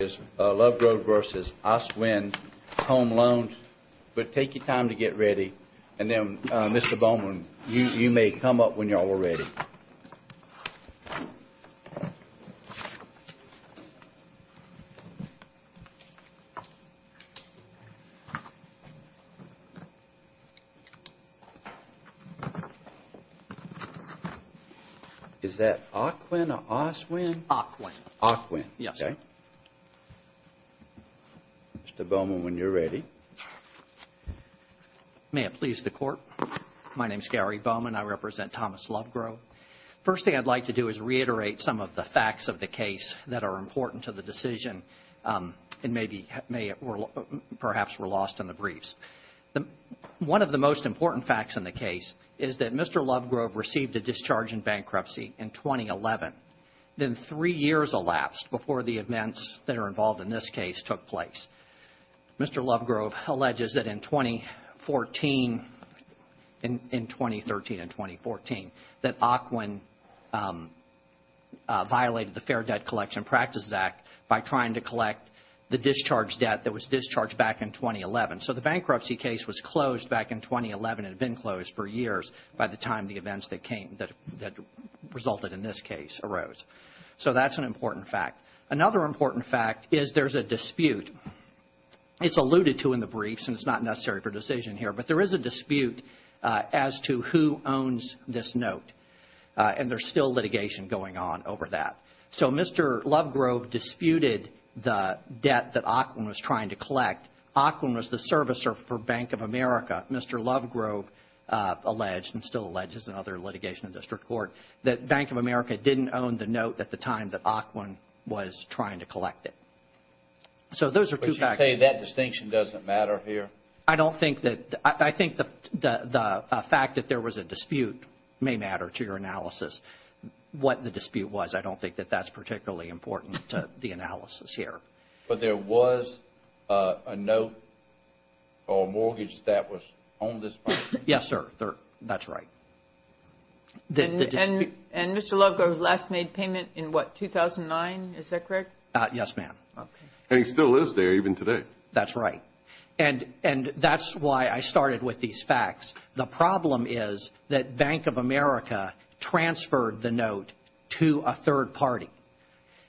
is Lovegrove v. Ocwen Home Loans, but take your time to get ready. And then, Mr. Bowman, you may come up when you're all ready. Is that Ocwen or Oswin? Ocwen. Ocwen. Yes, sir. Mr. Bowman, when you're ready. May it please the Court. My name's Gary Bowman. I represent Thomas Lovegrove. First thing I'd like to do is reiterate some of the facts of the case that are important to the decision and may perhaps were lost in the briefs. One of the most important facts in the case is that Mr. Lovegrove received a discharge in bankruptcy in 2011, then three years elapsed before the events that are involved in this case took place. Mr. Lovegrove alleges that in 2014, in 2013 and 2014, that Ocwen violated the Fair Debt Collection Practices Act by trying to collect the discharge debt that was discharged back in 2011. So the bankruptcy case was closed back in 2011. It had been closed for years by the time the events that resulted in this case arose. So that's an important fact. Another important fact is there's a dispute. It's alluded to in the briefs and it's not necessary for decision here, but there is a dispute as to who owns this note. And there's still litigation going on over that. So Mr. Lovegrove disputed the debt that Ocwen was trying to collect. Ocwen was the servicer for Bank of America. Mr. Lovegrove alleged and still alleges in other litigation in district court that Bank of America didn't own the note at the time that Ocwen was trying to collect it. So those are two facts. Would you say that distinction doesn't matter here? I don't think that, I think the fact that there was a dispute may matter to your analysis. What the dispute was, I don't think that that's particularly important to the analysis here. But there was a note or mortgage that was owned by this person? Yes, sir. That's right. And Mr. Lovegrove last made payment in what, 2009? Is that correct? Yes, ma'am. And he still is there even today. That's right. And that's why I started with these facts. The problem is that Bank of America transferred the note to a third party.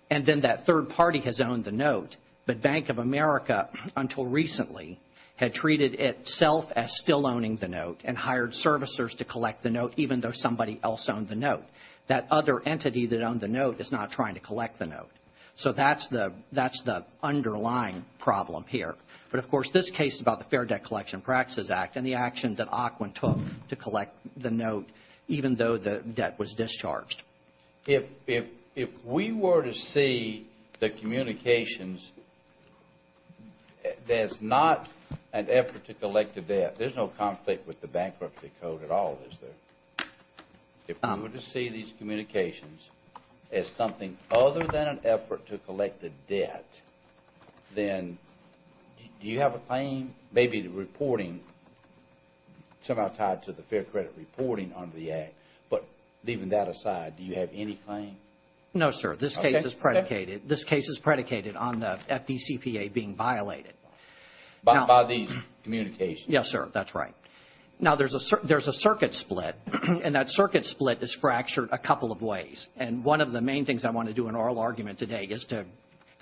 And then that third party has owned the note, but Bank of America until recently had treated itself as still owning the note and hired servicers to collect the note even though somebody else owned the note. That other entity that owned the note is not trying to collect the note. So that's the underlying problem here. But, of course, this case is about the Fair Debt Collection Practices Act and the action that Ocwen took to collect the note even though the debt was discharged. If we were to see the communications as not an effort to collect the debt, there's no conflict with the Bankruptcy Code at all, is there? If we were to see these communications as something other than an effort to collect the debt, then do you have a claim, maybe the reporting, somehow tied to the Do you have any claim? No, sir. This case is predicated on the FDCPA being violated. By these communications? Yes, sir. That's right. Now, there's a circuit split, and that circuit split is fractured a couple of ways. And one of the main things I want to do in oral argument today is to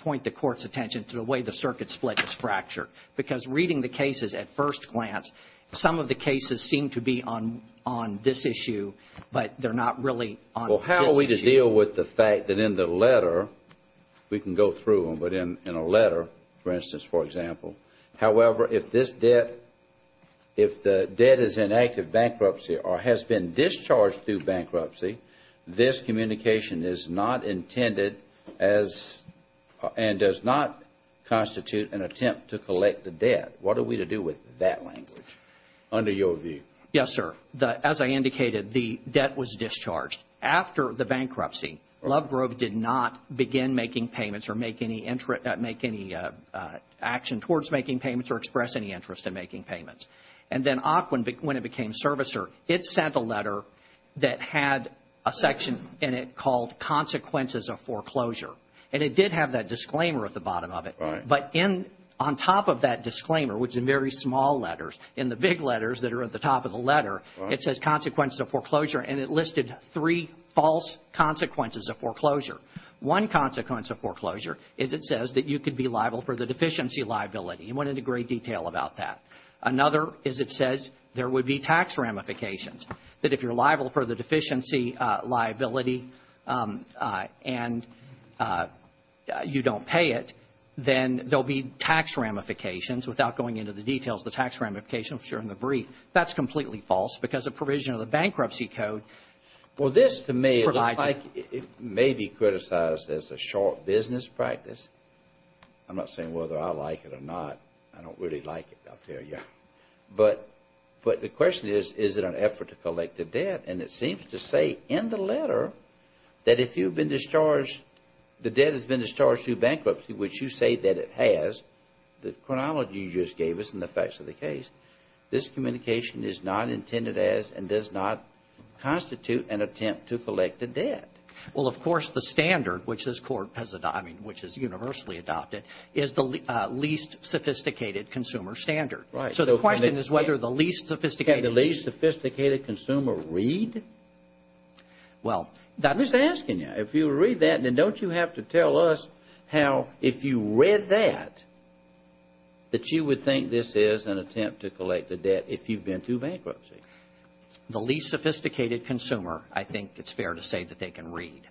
point the Court's attention to the way the circuit split is fractured. Because reading the cases at first glance, some of the cases seem to be on this issue, but they're not really on this issue. Well, how are we to deal with the fact that in the letter, we can go through them, but in a letter, for instance, for example, however, if this debt, if the debt is in active bankruptcy or has been discharged through bankruptcy, this communication is not intended as and does not constitute an attempt to collect the debt. What are we to do with that language, under your view? Yes, sir. As I indicated, the debt was discharged. After the bankruptcy, Lovegrove did not begin making payments or make any action towards making payments or express any interest in making payments. And then AQUIN, when it became servicer, it sent a letter that had a section in it called consequences of foreclosure. And it did have that disclaimer at the bottom of it. Right. But on top of that disclaimer, which are very small letters, in the big letters that are at the top of the letter, it says consequences of foreclosure, and it listed three false consequences of foreclosure. One consequence of foreclosure is it says that you could be liable for the deficiency liability. It went into great detail about that. Another is it says there would be tax ramifications, that if you're liable for the deficiency liability and you don't pay it, then there will be tax ramifications, without going into the details, the tax ramifications during the brief. That's completely false because the provision of the bankruptcy code provides it. Well, this to me, it looks like it may be criticized as a short business practice. I'm not saying whether I like it or not. I don't really like it, I'll tell you. But the question is, is it an effort to collect the debt? And it seems to say in the letter that if you've been discharged, the debt has been discharged through bankruptcy, which you say that it has, the chronology you just gave us and the facts of the case, this communication is not intended as and does not constitute an attempt to collect the debt. Well, of course, the standard, which this Court has adopted, I mean, which is universally adopted, is the least sophisticated consumer standard. Right. So the question is whether the least sophisticated consumer read. Well, I'm just asking you, if you read that, then don't you have to tell us how, if you read that, that you would think this is an attempt to collect the debt if you've been through bankruptcy? The least sophisticated consumer, I think it's fair to say that they can read.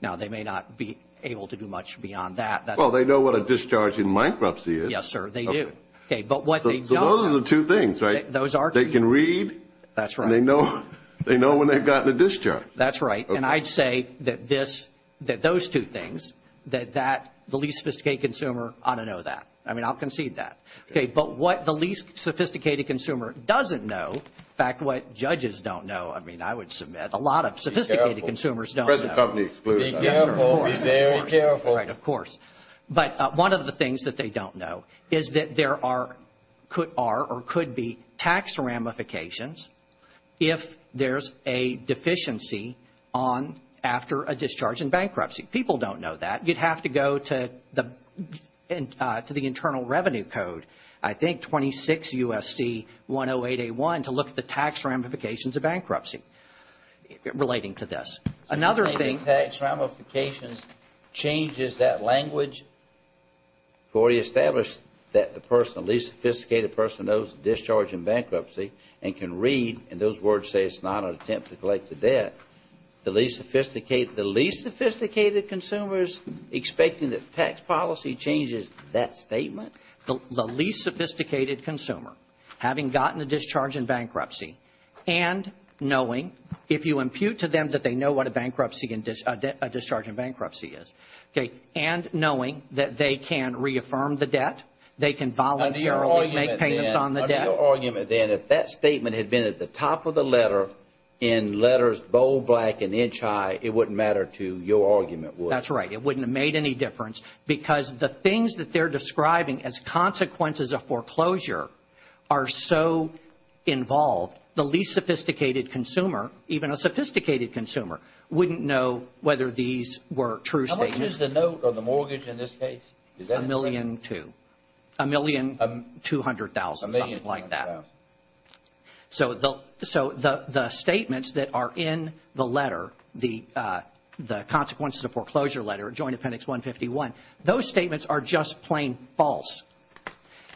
Now, they may not be able to do much beyond that. Well, they know what a discharge in bankruptcy is. Yes, sir, they do. Okay. So those are the two things, right? Those are two things. They can read. That's right. And they know when they've gotten a discharge. That's right. And I'd say that those two things, that the least sophisticated consumer ought to know that. I mean, I'll concede that. Okay. But what the least sophisticated consumer doesn't know, in fact, what judges don't know, I mean, I would submit, a lot of sophisticated consumers don't know. Be careful. Be very careful. Right, of course. But one of the things that they don't know is that there are or could be tax ramifications if there's a deficiency on after a discharge in bankruptcy. People don't know that. You'd have to go to the Internal Revenue Code, I think 26 U.S.C. 108A1, to look at the tax ramifications of bankruptcy relating to this. Another thing. Tax ramifications changes that language. We already established that the person, the least sophisticated person, knows the discharge in bankruptcy and can read. And those words say it's not an attempt to collect the debt. The least sophisticated consumer is expecting that the tax policy changes that statement? The least sophisticated consumer, having gotten a discharge in bankruptcy, and knowing, if you impute to them that they know what a discharge in bankruptcy is, and knowing that they can reaffirm the debt, they can voluntarily make payments on the debt. Under your argument, then, if that statement had been at the top of the letter in letters bold, black, and inch high, it wouldn't matter to your argument, would it? That's right. It wouldn't have made any difference because the things that they're describing as consequences of foreclosure are so involved, the least sophisticated consumer, even a sophisticated consumer, wouldn't know whether these were true statements. How much is the note on the mortgage in this case? Is that correct? A million two. A million two hundred thousand. So the statements that are in the letter, the consequences of foreclosure letter, Joint Appendix 151, those statements are just plain false.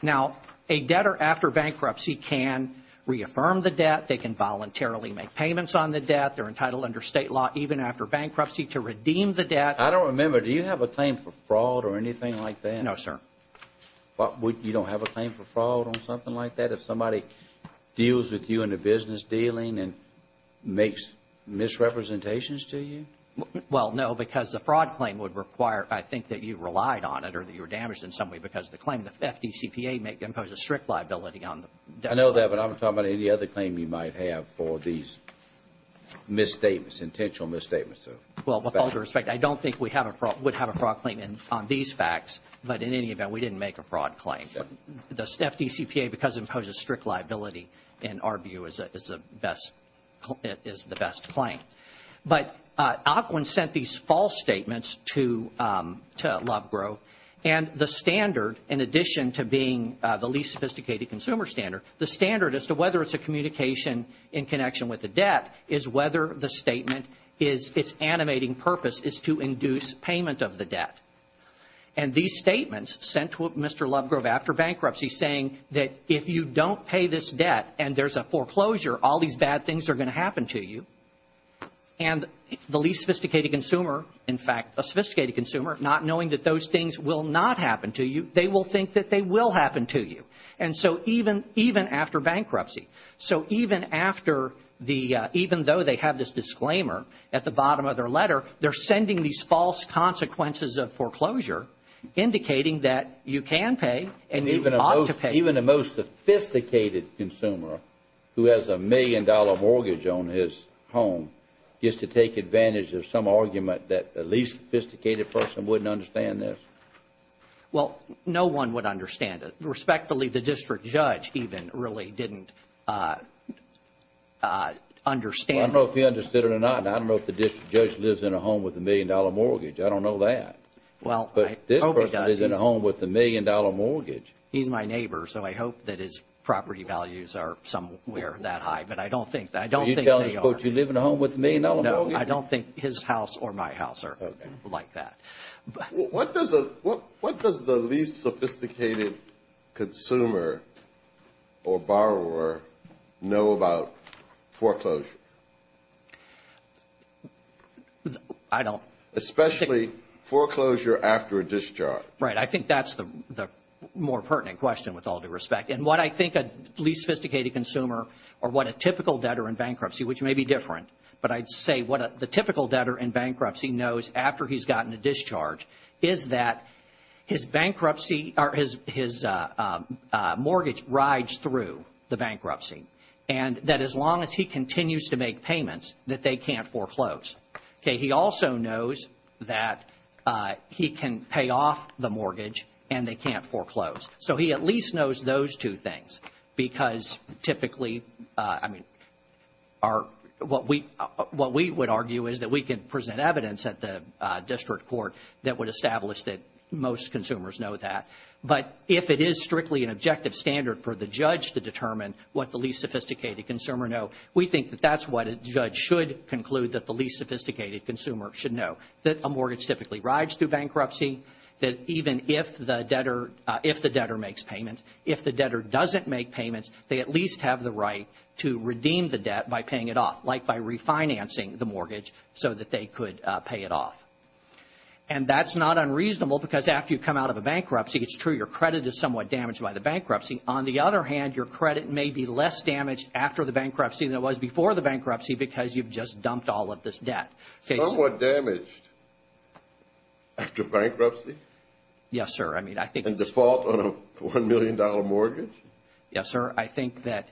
Now, a debtor after bankruptcy can reaffirm the debt, they can voluntarily make payments on the debt, they're entitled under state law even after bankruptcy to redeem the debt. I don't remember. Do you have a claim for fraud or anything like that? No, sir. You don't have a claim for fraud or something like that? If somebody deals with you in a business dealing and makes misrepresentations to you? Well, no, because the fraud claim would require, I think, that you relied on it or that you were damaged in some way because the claim, the FDCPA may impose a strict liability on the debtor. I know that, but I'm not talking about any other claim you might have for these misstatements, intentional misstatements. Well, with all due respect, I don't think we would have a fraud claim on these facts, but in any event, we didn't make a fraud claim. The FDCPA, because it imposes strict liability in our view, is the best claim. But Ocwen sent these false statements to Lovegrove, and the standard, in addition to being the least sophisticated consumer standard, the standard as to whether it's a communication in connection with the debt is whether the statement is, its animating purpose is to induce payment of the debt. And these statements sent to Mr. Lovegrove after bankruptcy saying that if you don't pay this debt and there's a foreclosure, all these bad things are going to happen to you, and the least sophisticated consumer, in fact, a sophisticated consumer, not knowing that those things will not happen to you, they will think that they will happen to you. And so even after bankruptcy, so even after the, even though they have this disclaimer at the bottom of their letter, they're sending these false consequences of foreclosure indicating that you can pay and you ought to pay. Even the most sophisticated consumer who has a million-dollar mortgage on his home gets to take advantage of some argument that the least sophisticated person wouldn't understand this? Well, no one would understand it. Respectfully, the district judge even really didn't understand it. Well, I don't know if he understood it or not, and I don't know if the district judge lives in a home with a million-dollar mortgage. I don't know that. Well, I hope he does. But this person lives in a home with a million-dollar mortgage. He's my neighbor, so I hope that his property values are somewhere that high, but I don't think they are. Are you telling us, quote, you live in a home with a million-dollar mortgage? No, I don't think his house or my house are like that. What does the least sophisticated consumer or borrower know about foreclosure? I don't. Especially foreclosure after a discharge. Right. I think that's the more pertinent question, with all due respect. And what I think a least sophisticated consumer or what a typical debtor in bankruptcy, which may be different, but I'd say what the typical debtor in bankruptcy knows after he's gotten a discharge is that his mortgage rides through the bankruptcy and that as long as he continues to make payments, that they can't foreclose. He also knows that he can pay off the mortgage and they can't foreclose. So he at least knows those two things because typically, I mean, what we would argue is that we can present evidence at the district court that would establish that most consumers know that. But if it is strictly an objective standard for the judge to determine what the least sophisticated consumer knows, we think that that's what a judge should conclude that the least sophisticated consumer should know, that a mortgage typically rides through bankruptcy, that even if the debtor makes payments, if the debtor doesn't make payments, they at least have the right to redeem the debt by paying it off, like by refinancing the mortgage so that they could pay it off. And that's not unreasonable because after you come out of a bankruptcy, it's true, your credit is somewhat damaged by the bankruptcy. On the other hand, your credit may be less damaged after the bankruptcy than it was before the bankruptcy because you've just dumped all of this debt. Somewhat damaged after bankruptcy? Yes, sir. And default on a $1 million mortgage? Yes, sir. I think that,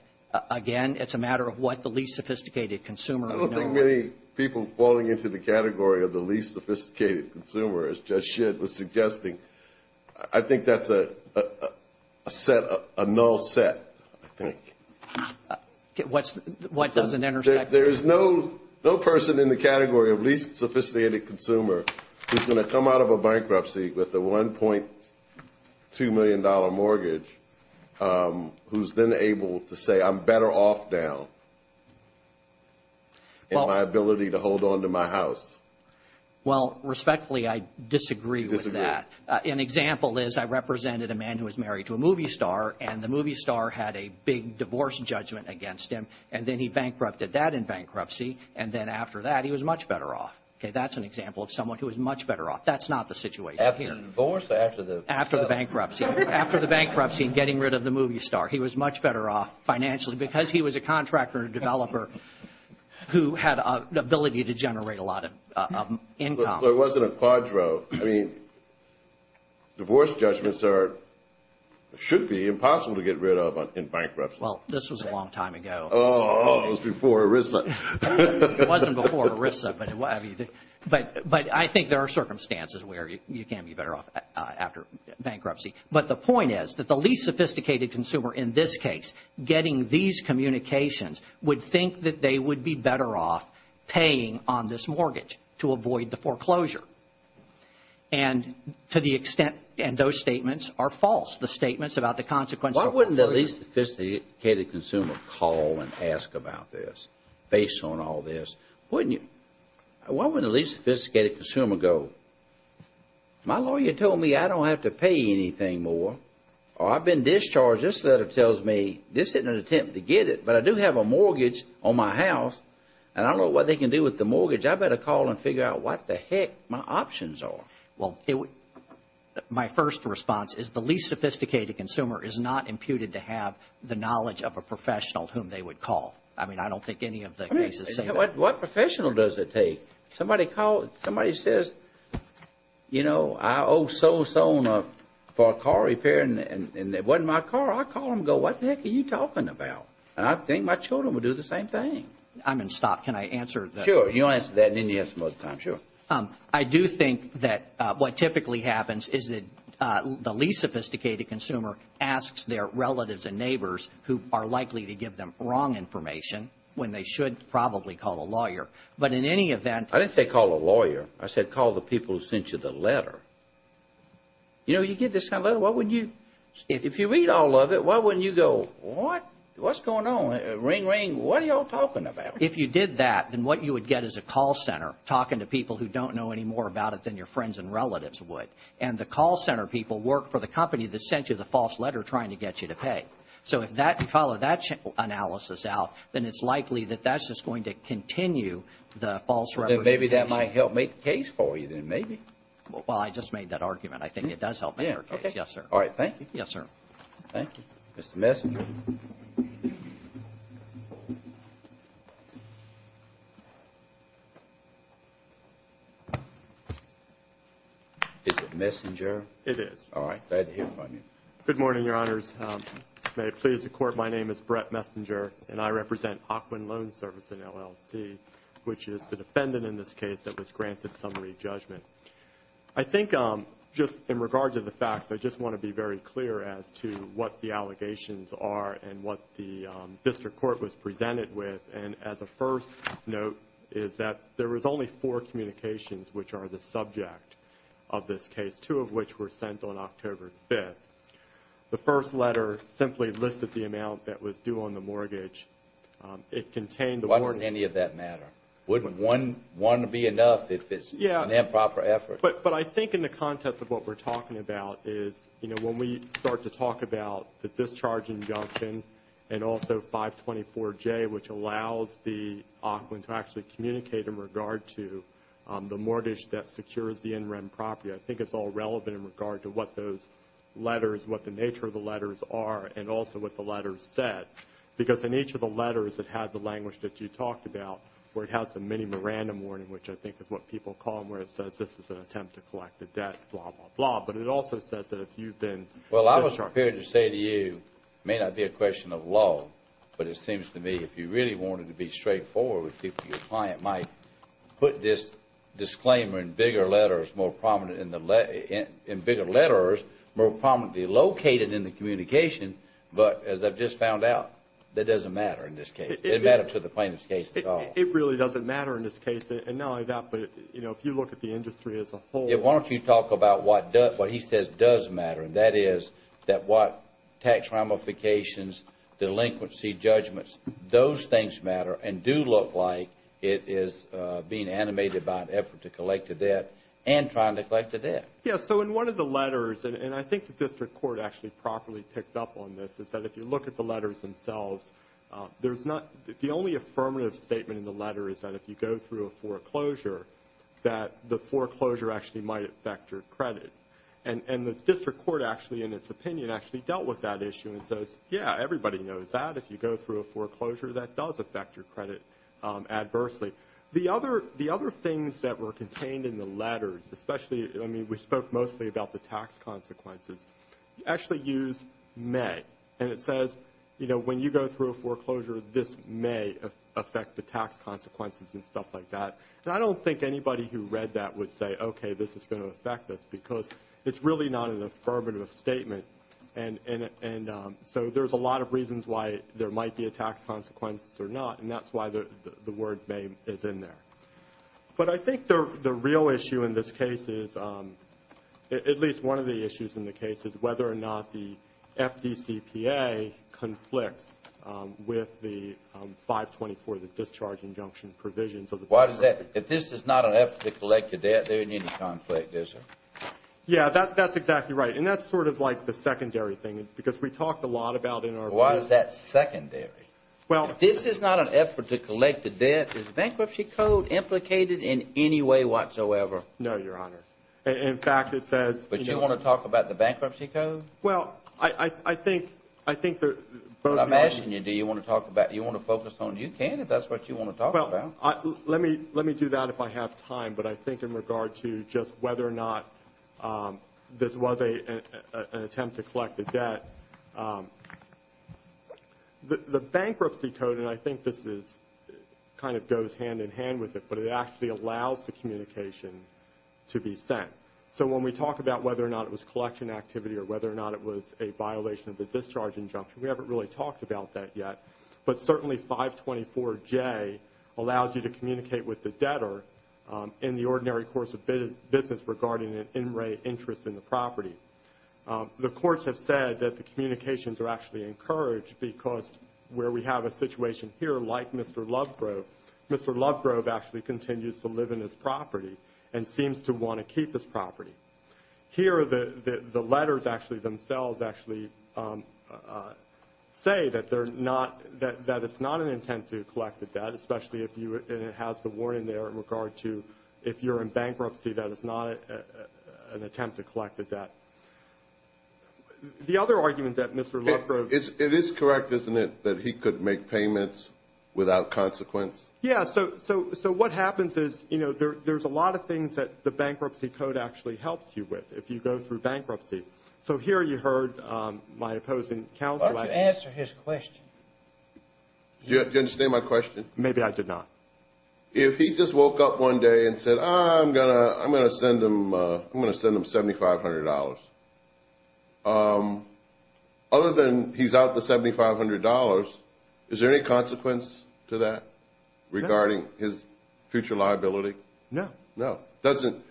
again, it's a matter of what the least sophisticated consumer would know. I don't think many people falling into the category of the least sophisticated consumer, as Judge Schitt was suggesting, I think that's a null set, I think. What doesn't intersect? There is no person in the category of least sophisticated consumer who's going to come out of a bankruptcy with a $1.2 million mortgage who's then able to say, I'm better off now in my ability to hold on to my house. Well, respectfully, I disagree with that. You disagree? An example is I represented a man who was married to a movie star, and the movie star had a big divorce judgment against him, and then he bankrupted that in bankruptcy, and then after that he was much better off. That's an example of someone who was much better off. That's not the situation here. After the divorce or after the? After the bankruptcy. After the bankruptcy and getting rid of the movie star. He was much better off financially because he was a contractor and a developer who had the ability to generate a lot of income. So it wasn't a quadro. I mean, divorce judgments should be impossible to get rid of in bankruptcy. Well, this was a long time ago. Oh, it was before ERISA. It wasn't before ERISA, but I think there are circumstances where you can be better off after bankruptcy. But the point is that the least sophisticated consumer in this case getting these communications would think that they would be better off paying on this mortgage to avoid the foreclosure. And to the extent those statements are false, the statements about the consequences. Why wouldn't the least sophisticated consumer call and ask about this based on all this? Why wouldn't the least sophisticated consumer go, my lawyer told me I don't have to pay anything more, or I've been discharged. This letter tells me this isn't an attempt to get it, but I do have a mortgage on my house and I don't know what they can do with the mortgage. I better call and figure out what the heck my options are. Well, my first response is the least sophisticated consumer is not imputed to have the knowledge of a professional whom they would call. I mean, I don't think any of the cases say that. What professional does it take? Somebody says, you know, I owe so-and-so for a car repair, and it wasn't my car. I'd call and go, what the heck are you talking about? And I think my children would do the same thing. I'm going to stop. Can I answer? Sure. You answered that and then you had some other time. Sure. I do think that what typically happens is that the least sophisticated consumer asks their relatives and neighbors who are likely to give them wrong information when they should probably call a lawyer. But in any event I didn't say call a lawyer. I said call the people who sent you the letter. You know, you get this kind of letter, what would you If you read all of it, why wouldn't you go, what? What's going on? Ring, ring. What are you all talking about? If you did that, then what you would get is a call center talking to people who don't know any more about it than your friends and relatives would. And the call center people work for the company that sent you the false letter trying to get you to pay. So if you follow that analysis out, then it's likely that that's just going to continue the false representation. Then maybe that might help make the case for you then, maybe. Well, I just made that argument. I think it does help make our case. Yes, sir. All right. Thank you. Yes, sir. Thank you. Mr. Messenger? Is it Messenger? It is. All right. Glad to hear from you. Good morning, Your Honors. May it please the Court, my name is Brett Messenger, and I represent Aquan Loan Service in LLC, which is the defendant in this case that was granted summary judgment. I think just in regards to the facts, I just want to be very clear as to what the allegations are and what the district court was presented with. And as a first note is that there was only four communications which are the subject of this case, two of which were sent on October 5th. The first letter simply listed the amount that was due on the mortgage. Why doesn't any of that matter? Wouldn't one be enough if it's an improper effort? But I think in the context of what we're talking about is, you know, when we start to talk about the discharge injunction and also 524J, which allows the aquan to actually communicate in regard to the mortgage that secures the in-rem property, I think it's all relevant in regard to what those letters, what the nature of the letters are, and also what the letters said. Because in each of the letters, it had the language that you talked about, where it has the mini Miranda warning, which I think is what people call them, where it says, this is an attempt to collect a debt, blah, blah, blah. But it also says that if you've been – Well, I was prepared to say to you, it may not be a question of law, but it seems to me if you really wanted to be straightforward with people, I think your client might put this disclaimer in bigger letters, more prominent in the – in bigger letters, more prominently located in the communication. But as I've just found out, that doesn't matter in this case. It doesn't matter to the plaintiff's case at all. It really doesn't matter in this case. And not only that, but, you know, if you look at the industry as a whole. Why don't you talk about what he says does matter, and that is that what tax ramifications, delinquency judgments, those things matter and do look like it is being animated by an effort to collect a debt and trying to collect a debt. Yeah, so in one of the letters, and I think the district court actually properly picked up on this, is that if you look at the letters themselves, there's not – the only affirmative statement in the letter is that if you go through a foreclosure, that the foreclosure actually might affect your credit. And the district court actually, in its opinion, actually dealt with that issue and says, yeah, everybody knows that. If you go through a foreclosure, that does affect your credit adversely. The other things that were contained in the letters, especially, I mean, we spoke mostly about the tax consequences, actually use may. And it says, you know, when you go through a foreclosure, this may affect the tax consequences and stuff like that. And I don't think anybody who read that would say, okay, this is going to affect us, because it's really not an affirmative statement. And so there's a lot of reasons why there might be a tax consequence or not, and that's why the word may is in there. But I think the real issue in this case is, at least one of the issues in the case, is whether or not the FDCPA conflicts with the 524, the discharge injunction provision. Why does that – if this is not an effort to collect a debt, there isn't any conflict, is there? Yeah, that's exactly right. And that's sort of like the secondary thing, because we talked a lot about in our brief. Why is that secondary? If this is not an effort to collect a debt, is the bankruptcy code implicated in any way whatsoever? No, Your Honor. In fact, it says – But you want to talk about the bankruptcy code? Well, I think – I'm asking you, do you want to talk about it? You want to focus on it? You can if that's what you want to talk about. Let me do that if I have time. But I think in regard to just whether or not this was an attempt to collect a debt, the bankruptcy code – and I think this kind of goes hand-in-hand with it, but it actually allows the communication to be sent. So when we talk about whether or not it was collection activity or whether or not it was a violation of the discharge injunction, we haven't really talked about that yet. But certainly 524J allows you to communicate with the debtor in the ordinary course of business regarding an in-rate interest in the property. The courts have said that the communications are actually encouraged because where we have a situation here like Mr. Lovegrove, Mr. Lovegrove actually continues to live in this property and seems to want to keep this property. Here the letters actually themselves actually say that it's not an intent to collect a debt, especially if you – and it has the warning there in regard to if you're in bankruptcy, that it's not an attempt to collect a debt. The other argument that Mr. Lovegrove – It is correct, isn't it, that he could make payments without consequence? Yes. So what happens is there's a lot of things that the bankruptcy code actually helps you with if you go through bankruptcy. So here you heard my opposing counsel. Why don't you answer his question? Do you understand my question? Maybe I did not. If he just woke up one day and said, I'm going to send him $7,500, other than he's out the $7,500, is there any consequence to that regarding his future liability? No. No. Doesn't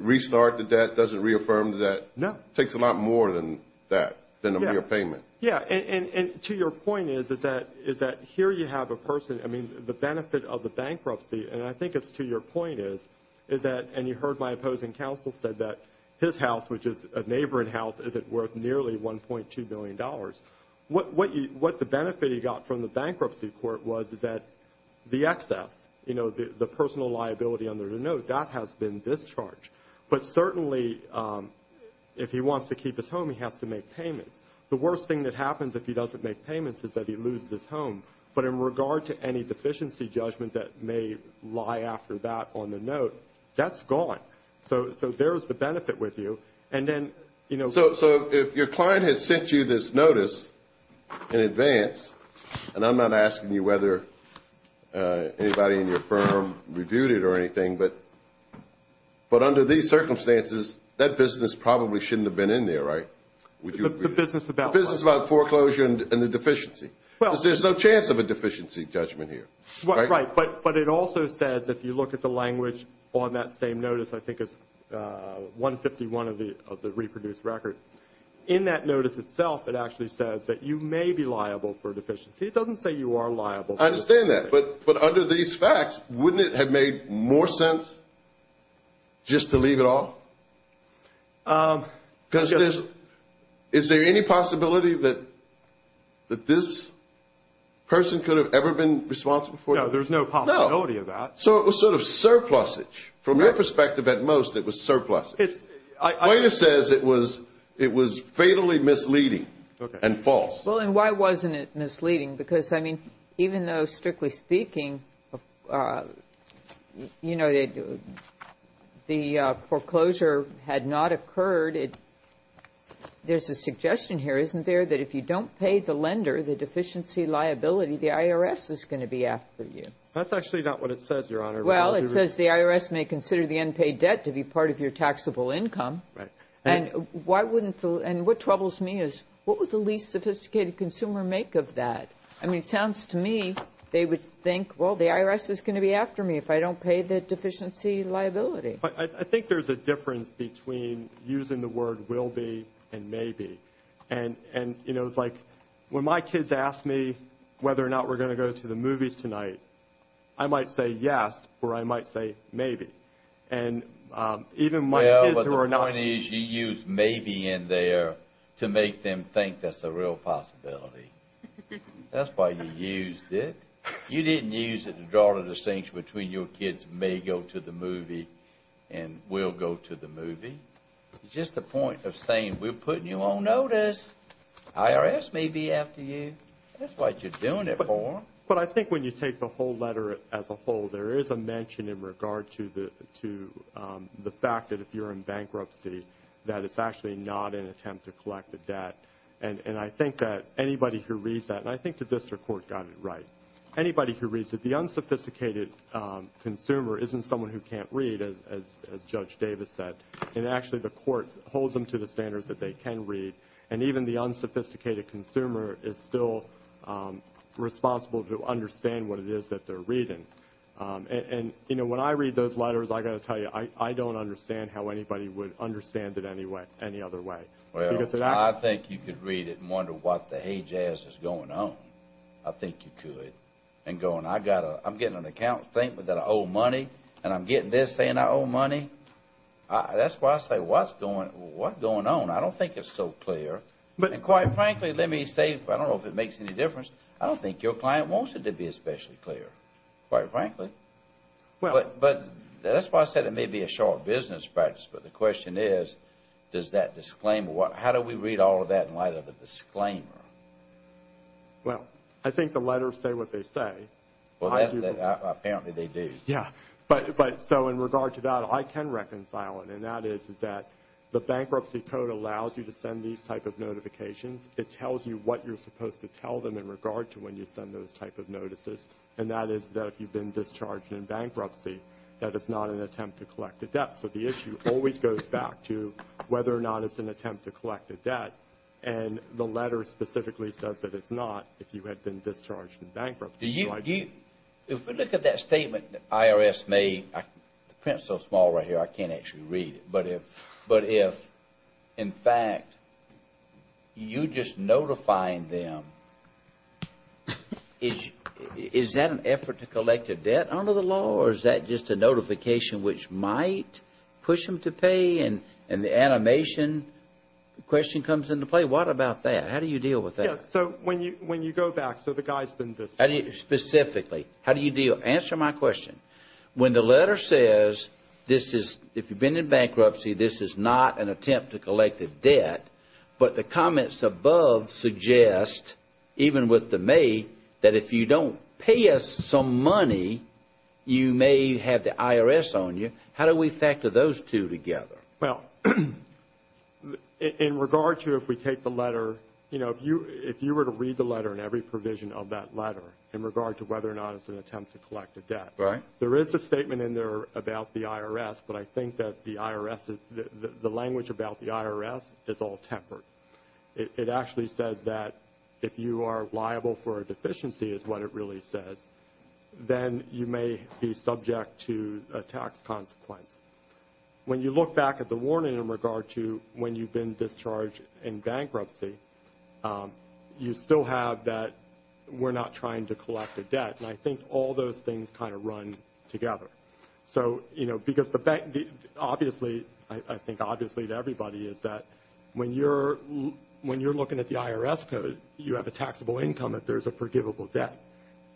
restart the debt? Doesn't reaffirm the debt? No. It takes a lot more than that, than a mere payment. Yes, and to your point is that here you have a person – I mean, the benefit of the bankruptcy, and I think it's to your point is that – which is a neighboring house isn't worth nearly $1.2 billion. What the benefit he got from the bankruptcy court was is that the excess, the personal liability under the note, that has been discharged. But certainly, if he wants to keep his home, he has to make payments. The worst thing that happens if he doesn't make payments is that he loses his home. But in regard to any deficiency judgment that may lie after that on the note, that's gone. So there's the benefit with you. And then – So if your client has sent you this notice in advance, and I'm not asking you whether anybody in your firm reviewed it or anything, but under these circumstances, that business probably shouldn't have been in there, right? The business about what? The business about foreclosure and the deficiency. Because there's no chance of a deficiency judgment here, right? Right, but it also says, if you look at the language on that same notice, I think it's 151 of the reproduced record. In that notice itself, it actually says that you may be liable for deficiency. It doesn't say you are liable for deficiency. I understand that. But under these facts, wouldn't it have made more sense just to leave it off? Because there's – Is there any possibility that this person could have ever been responsible for it? No, there's no possibility of that. So it was sort of surplusage. From your perspective, at most, it was surplusage. It's – Quota says it was fatally misleading and false. Well, and why wasn't it misleading? Because, I mean, even though, strictly speaking, you know, the foreclosure had not occurred, there's a suggestion here, isn't there, that if you don't pay the lender the deficiency liability, the IRS is going to be after you. That's actually not what it says, Your Honor. Well, it says the IRS may consider the unpaid debt to be part of your taxable income. Right. And why wouldn't the – and what troubles me is what would the least sophisticated consumer make of that? I mean, it sounds to me they would think, well, the IRS is going to be after me if I don't pay the deficiency liability. I think there's a difference between using the word will be and may be. And, you know, it's like when my kids ask me whether or not we're going to go to the movies tonight, I might say yes or I might say maybe. And even my kids who are not – Well, but the point is you used maybe in there to make them think that's a real possibility. That's why you used it. You didn't use it to draw the distinction between your kids may go to the movie and will go to the movie. It's just a point of saying we're putting you on notice. IRS may be after you. That's what you're doing it for. But I think when you take the whole letter as a whole, there is a mention in regard to the fact that if you're in bankruptcy that it's actually not an attempt to collect the debt. And I think that anybody who reads that, and I think the district court got it right, anybody who reads it, the unsophisticated consumer isn't someone who can't read, as Judge Davis said. And actually the court holds them to the standards that they can read. And even the unsophisticated consumer is still responsible to understand what it is that they're reading. And, you know, when I read those letters, I've got to tell you, I don't understand how anybody would understand it any other way. Well, I think you could read it and wonder what the hay jazz is going on. I think you could. And going, I'm getting an account statement that I owe money, and I'm getting this saying I owe money. That's why I say, what's going on? I don't think it's so clear. And quite frankly, let me say, I don't know if it makes any difference, I don't think your client wants it to be especially clear, quite frankly. But that's why I said it may be a short business practice. But the question is, does that disclaimer, how do we read all of that in light of the disclaimer? Well, I think the letters say what they say. Well, apparently they do. Yeah. But so in regard to that, I can reconcile it, and that is that the bankruptcy code allows you to send these type of notifications. It tells you what you're supposed to tell them in regard to when you send those type of notices, and that is that if you've been discharged in bankruptcy, that it's not an attempt to collect a debt. So the issue always goes back to whether or not it's an attempt to collect a debt, and the letter specifically says that it's not if you had been discharged in bankruptcy. If we look at that statement the IRS made, the print is so small right here I can't actually read it, but if in fact you just notify them, is that an effort to collect a debt under the law or is that just a notification which might push them to pay and the animation question comes into play? What about that? How do you deal with that? Yeah, so when you go back, so the guy's been discharged. Specifically, how do you deal? Answer my question. When the letter says this is if you've been in bankruptcy, this is not an attempt to collect a debt, but the comments above suggest, even with the may, that if you don't pay us some money, you may have the IRS on you. How do we factor those two together? Well, in regard to if we take the letter, you know, if you were to read the letter and every provision of that letter in regard to whether or not it's an attempt to collect a debt, there is a statement in there about the IRS, but I think that the language about the IRS is all tempered. It actually says that if you are liable for a deficiency is what it really says, then you may be subject to a tax consequence. When you look back at the warning in regard to when you've been discharged in bankruptcy, you still have that we're not trying to collect a debt, and I think all those things kind of run together. So, you know, because the bank, obviously, I think obviously to everybody, is that when you're looking at the IRS code, you have a taxable income if there's a forgivable debt.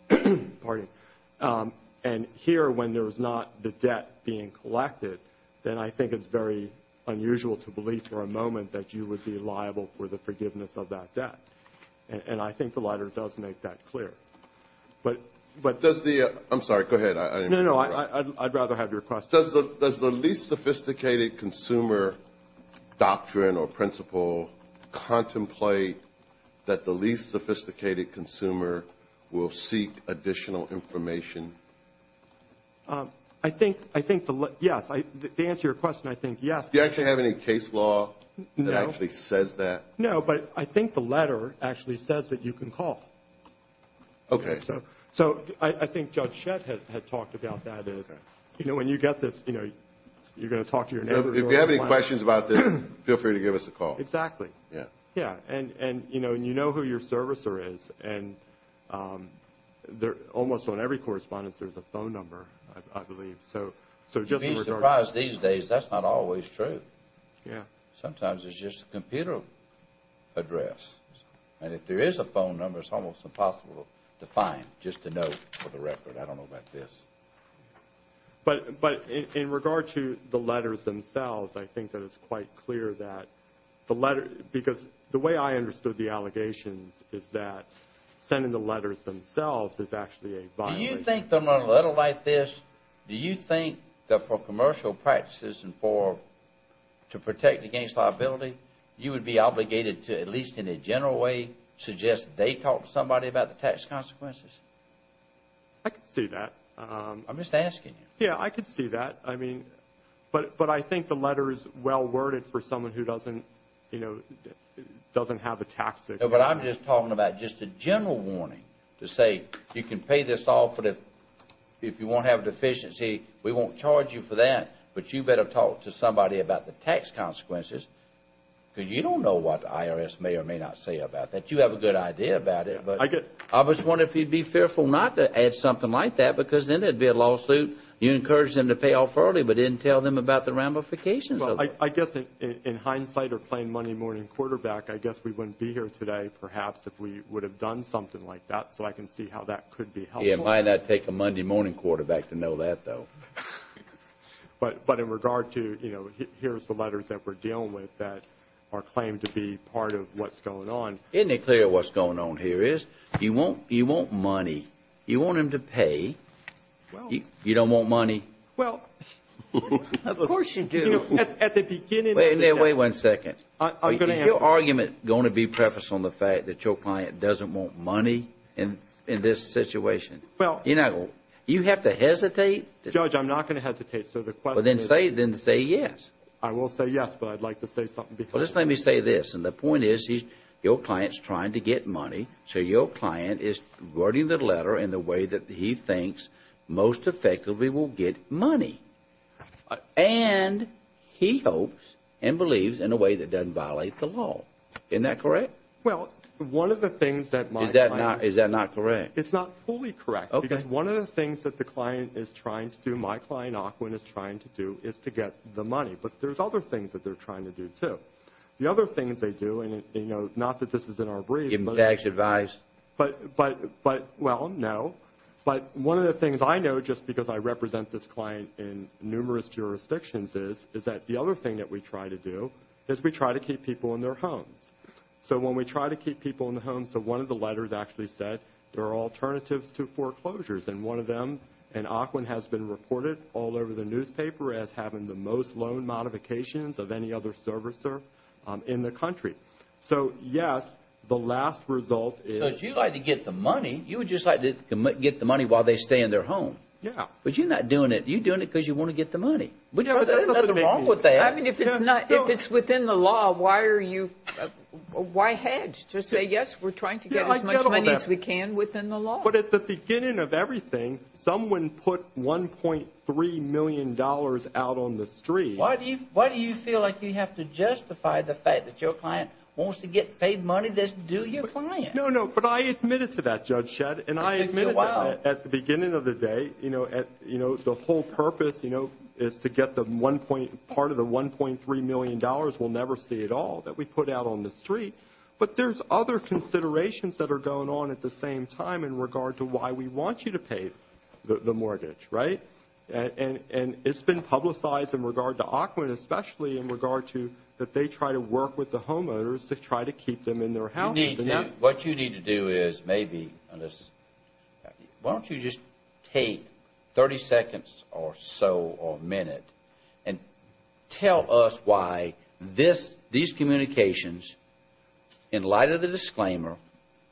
Pardon me. And here, when there is not the debt being collected, then I think it's very unusual to believe for a moment that you would be liable for the forgiveness of that debt. And I think the letter does make that clear. But does the – I'm sorry, go ahead. No, no, I'd rather have your question. Does the least sophisticated consumer doctrine or principle contemplate that the least sophisticated consumer will seek additional information? I think the – yes, to answer your question, I think yes. Do you actually have any case law that actually says that? No, but I think the letter actually says that you can call. Okay. So I think Judge Shett had talked about that. You know, when you get this, you know, you're going to talk to your neighbor. If you have any questions about this, feel free to give us a call. Exactly. Yeah. Yeah. And, you know, you know who your servicer is, and almost on every correspondence there's a phone number, I believe. So just in regard to – You'd be surprised these days, that's not always true. Yeah. Sometimes it's just a computer address. And if there is a phone number, it's almost impossible to find, just to know for the record. I don't know about this. But in regard to the letters themselves, I think that it's quite clear that the letter – because the way I understood the allegations is that sending the letters themselves is actually a violation. Do you think that for a letter like this, do you think that for commercial practices and for – to protect against liability, you would be obligated to, at least in a general way, suggest they talk to somebody about the tax consequences? I could see that. I'm just asking you. Yeah, I could see that. I mean – but I think the letter is well-worded for someone who doesn't, you know, doesn't have a tax – No, but I'm just talking about just a general warning to say you can pay this off, but if you won't have a deficiency, we won't charge you for that, but you better talk to somebody about the tax consequences, because you don't know what the IRS may or may not say about that. You have a good idea about it, but – I was wondering if you'd be fearful not to add something like that, because then there'd be a lawsuit. You encouraged them to pay off early, but didn't tell them about the ramifications of it. Well, I guess in hindsight or playing Monday morning quarterback, I guess we wouldn't be here today perhaps if we would have done something like that, so I can see how that could be helpful. Yeah, it might not take a Monday morning quarterback to know that, though. But in regard to, you know, here's the letters that we're dealing with that are claimed to be part of what's going on. Isn't it clear what's going on here is you want money. You want them to pay. You don't want money. Well, of course you do. At the beginning – Wait a second. Is your argument going to be prefaced on the fact that your client doesn't want money in this situation? Well – You have to hesitate. Judge, I'm not going to hesitate. But then say yes. I will say yes, but I'd like to say something because – Well, just let me say this, and the point is your client's trying to get money, so your client is wording the letter in the way that he thinks most effectively will get money. And he hopes and believes in a way that doesn't violate the law. Isn't that correct? Well, one of the things that my client – Is that not correct? It's not fully correct. Okay. Because one of the things that the client is trying to do, my client, Aquin, is trying to do is to get the money. But there's other things that they're trying to do, too. The other things they do, and, you know, not that this is in our brief, but – Give them tax advice. But – well, no. But one of the things I know, just because I represent this client in numerous jurisdictions, is that the other thing that we try to do is we try to keep people in their homes. So when we try to keep people in their homes – so one of the letters actually said there are alternatives to foreclosures, and one of them, and Aquin has been reported all over the newspaper as having the most loan modifications of any other servicer in the country. So, yes, the last result is – So if you'd like to get the money, you would just like to get the money while they stay in their home. Yeah. But you're not doing it. You're doing it because you want to get the money. But there's nothing wrong with that. I mean, if it's not – if it's within the law, why are you – why hedge? Just say, yes, we're trying to get as much money as we can within the law. But at the beginning of everything, someone put $1.3 million out on the street. Why do you feel like you have to justify the fact that your client wants to get paid money that's due your client? No, no, but I admitted to that, Judge Shedd. It took you a while. And I admitted that at the beginning of the day, you know, the whole purpose, you know, is to get the one point – part of the $1.3 million we'll never see at all that we put out on the street. But there's other considerations that are going on at the same time in regard to why we want you to pay the mortgage, right? And it's been publicized in regard to Auckland, especially in regard to that they try to work with the homeowners to try to keep them in their houses. What you need to do is maybe – why don't you just take 30 seconds or so or a minute and tell us why these communications in light of the disclaimer,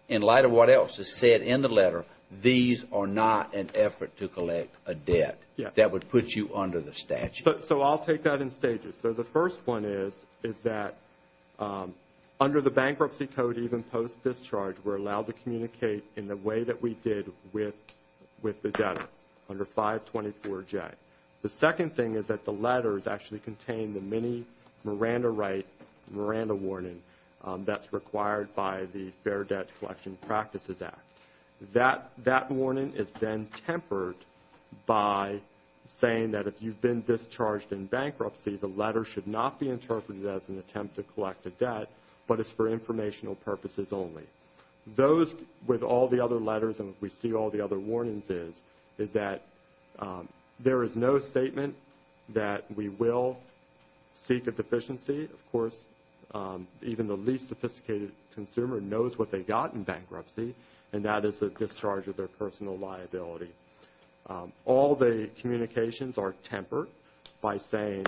in light of what else is said in the letter, these are not an effort to collect a debt that would put you under the statute. So I'll take that in stages. So the first one is that under the Bankruptcy Code, even post-discharge, we're allowed to communicate in the way that we did with the debtor under 524J. The second thing is that the letters actually contain the mini Miranda right, Miranda warning, that's required by the Fair Debt Collection Practices Act. That warning is then tempered by saying that if you've been discharged in bankruptcy, the letter should not be interpreted as an attempt to collect a debt, but it's for informational purposes only. Those, with all the other letters and we see all the other warnings is, is that there is no statement that we will seek a deficiency. Of course, even the least sophisticated consumer knows what they got in bankruptcy and that is a discharge of their personal liability. All the communications are tempered by saying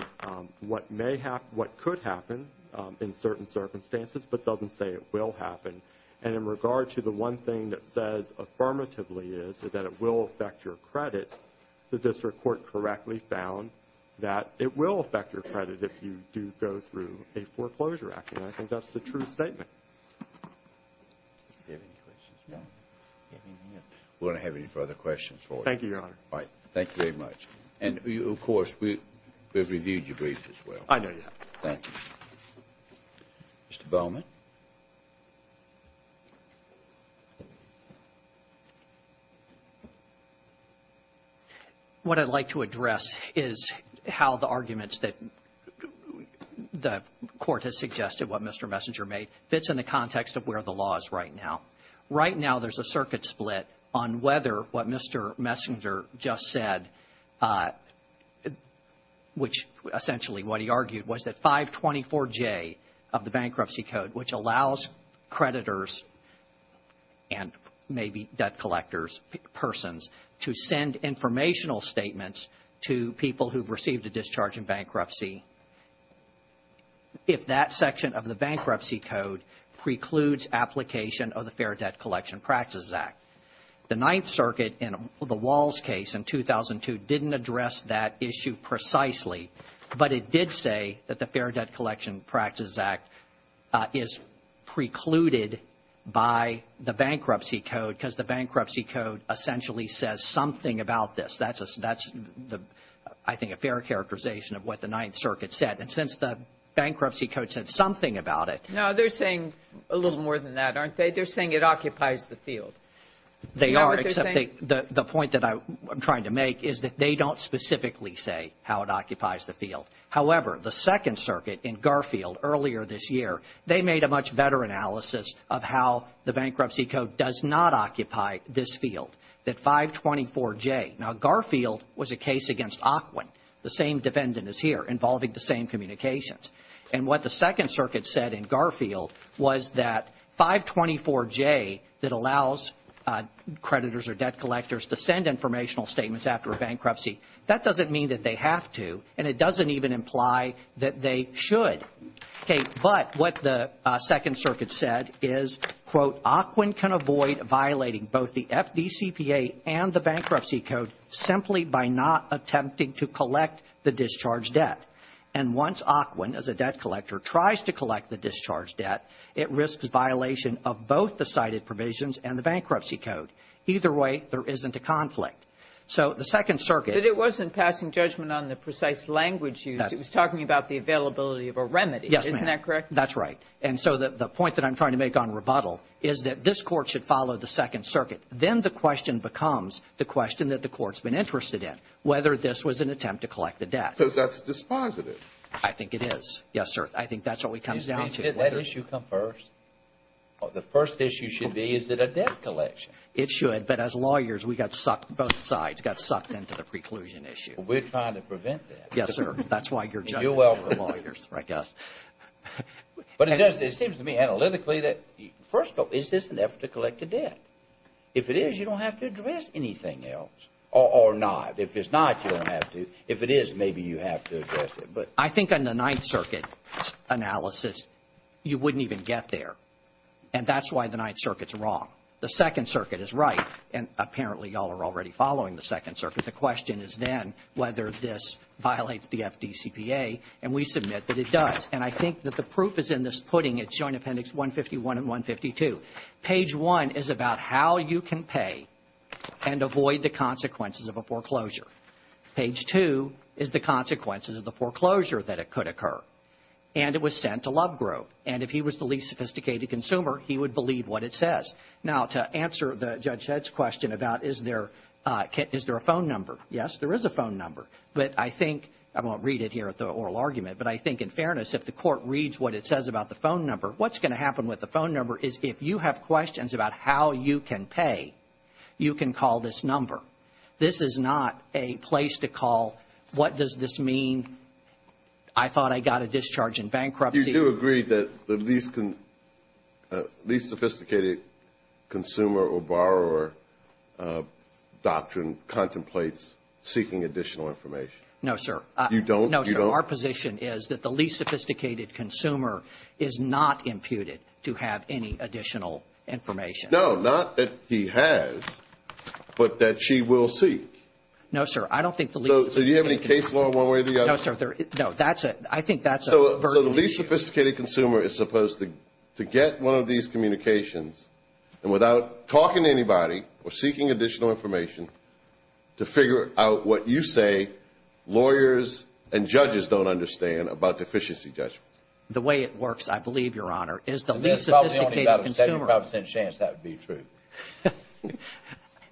what could happen in certain circumstances, but doesn't say it will happen. And in regard to the one thing that says affirmatively is that it will affect your credit, the district court correctly found that it will affect your credit if you do go through a foreclosure act, and I think that's the true statement. Do you have any questions? No. We don't have any further questions for you. Thank you, Your Honor. All right. Thank you very much. And of course, we've reviewed your brief as well. I know you have. Thank you. Mr. Bowman. Mr. Bowman. What I'd like to address is how the arguments that the court has suggested, what Mr. Messenger made, fits in the context of where the law is right now. Right now there's a circuit split on whether what Mr. Messenger just said, which essentially what he argued was that 524J of the Bankruptcy Code, which allows creditors and maybe debt collectors, persons, to send informational statements to people who've received a discharge in bankruptcy, if that section of the Bankruptcy Code precludes application of the Fair Debt Collection Practices Act. The Ninth Circuit in the Walls case in 2002 didn't address that issue precisely, but it did say that the Fair Debt Collection Practices Act is precluded by the Bankruptcy Code because the Bankruptcy Code essentially says something about this. That's, I think, a fair characterization of what the Ninth Circuit said. And since the Bankruptcy Code said something about it. No, they're saying a little more than that, aren't they? They're saying it occupies the field. They are, except the point that I'm trying to make is that they don't specifically say how it occupies the field. However, the Second Circuit in Garfield earlier this year, they made a much better analysis of how the Bankruptcy Code does not occupy this field, that 524J. Now, Garfield was a case against Ocwen, the same defendant as here, involving the same communications. And what the Second Circuit said in Garfield was that 524J that allows creditors or debt collectors to send informational statements after a bankruptcy, that doesn't mean that they have to, and it doesn't even imply that they should. But what the Second Circuit said is, quote, Ocwen can avoid violating both the FDCPA and the Bankruptcy Code simply by not attempting to collect the discharged debt. And once Ocwen, as a debt collector, tries to collect the discharged debt, it risks violation of both the cited provisions and the Bankruptcy Code. Either way, there isn't a conflict. So the Second Circuit — But it wasn't passing judgment on the precise language used. It was talking about the availability of a remedy. Yes, ma'am. Isn't that correct? That's right. And so the point that I'm trying to make on rebuttal is that this Court should follow the Second Circuit. Then the question becomes the question that the Court's been interested in, whether this was an attempt to collect the debt. Because that's dispositive. I think it is. Yes, sir. I think that's what comes down to. Didn't that issue come first? The first issue should be, is it a debt collection? It should. But as lawyers, we got sucked, both sides got sucked into the preclusion issue. We're trying to prevent that. Yes, sir. That's why you're judging the lawyers, I guess. But it seems to me analytically that, first of all, is this an effort to collect the debt? If it is, you don't have to address anything else. Or not. If it's not, you don't have to. If it is, maybe you have to address it. I think on the Ninth Circuit analysis, you wouldn't even get there. And that's why the Ninth Circuit's wrong. The Second Circuit is right. And apparently, y'all are already following the Second Circuit. The question is then whether this violates the FDCPA. And we submit that it does. And I think that the proof is in this putting at Joint Appendix 151 and 152. Page 1 is about how you can pay and avoid the consequences of a foreclosure. Page 2 is the consequences of the foreclosure that could occur. And it was sent to Lovegrove. And if he was the least sophisticated consumer, he would believe what it says. Now, to answer Judge Head's question about is there a phone number, yes, there is a phone number. But I think, I won't read it here at the oral argument, but I think in fairness, if the court reads what it says about the phone number, what's going to happen with the phone number is if you have questions about how you can pay, you can call this number. This is not a place to call, what does this mean? I thought I got a discharge in bankruptcy. You do agree that the least sophisticated consumer or borrower doctrine contemplates seeking additional information? No, sir. You don't? No, sir. Our position is that the least sophisticated consumer is not imputed to have any additional information. No, not that he has, but that she will seek. No, sir. I don't think the least sophisticated consumer. So do you have any case law one way or the other? No, sir. No, that's a, I think that's a very unique. So the least sophisticated consumer is supposed to get one of these communications and without talking to anybody or seeking additional information to figure out what you say lawyers and judges don't understand about deficiency judgments. The way it works, I believe, Your Honor, is the least sophisticated consumer. 75% chance that would be true.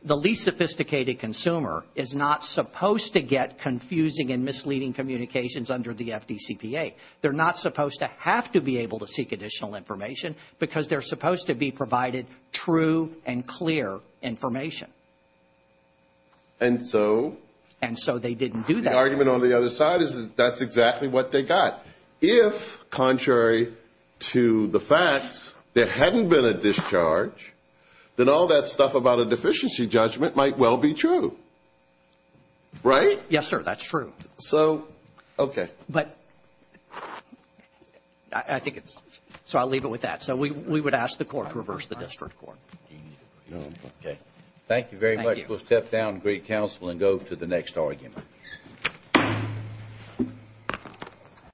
The least sophisticated consumer is not supposed to get confusing and misleading communications under the FDCPA. They're not supposed to have to be able to seek additional information because they're supposed to be provided true and clear information. And so? And so they didn't do that. The argument on the other side is that's exactly what they got. If, contrary to the facts, there hadn't been a discharge, then all that stuff about a deficiency judgment might well be true. Right? Yes, sir. That's true. So, okay. But I think it's, so I'll leave it with that. So we would ask the Court to reverse the district court. Okay. Thank you very much. We'll step down to greet counsel and go to the next argument.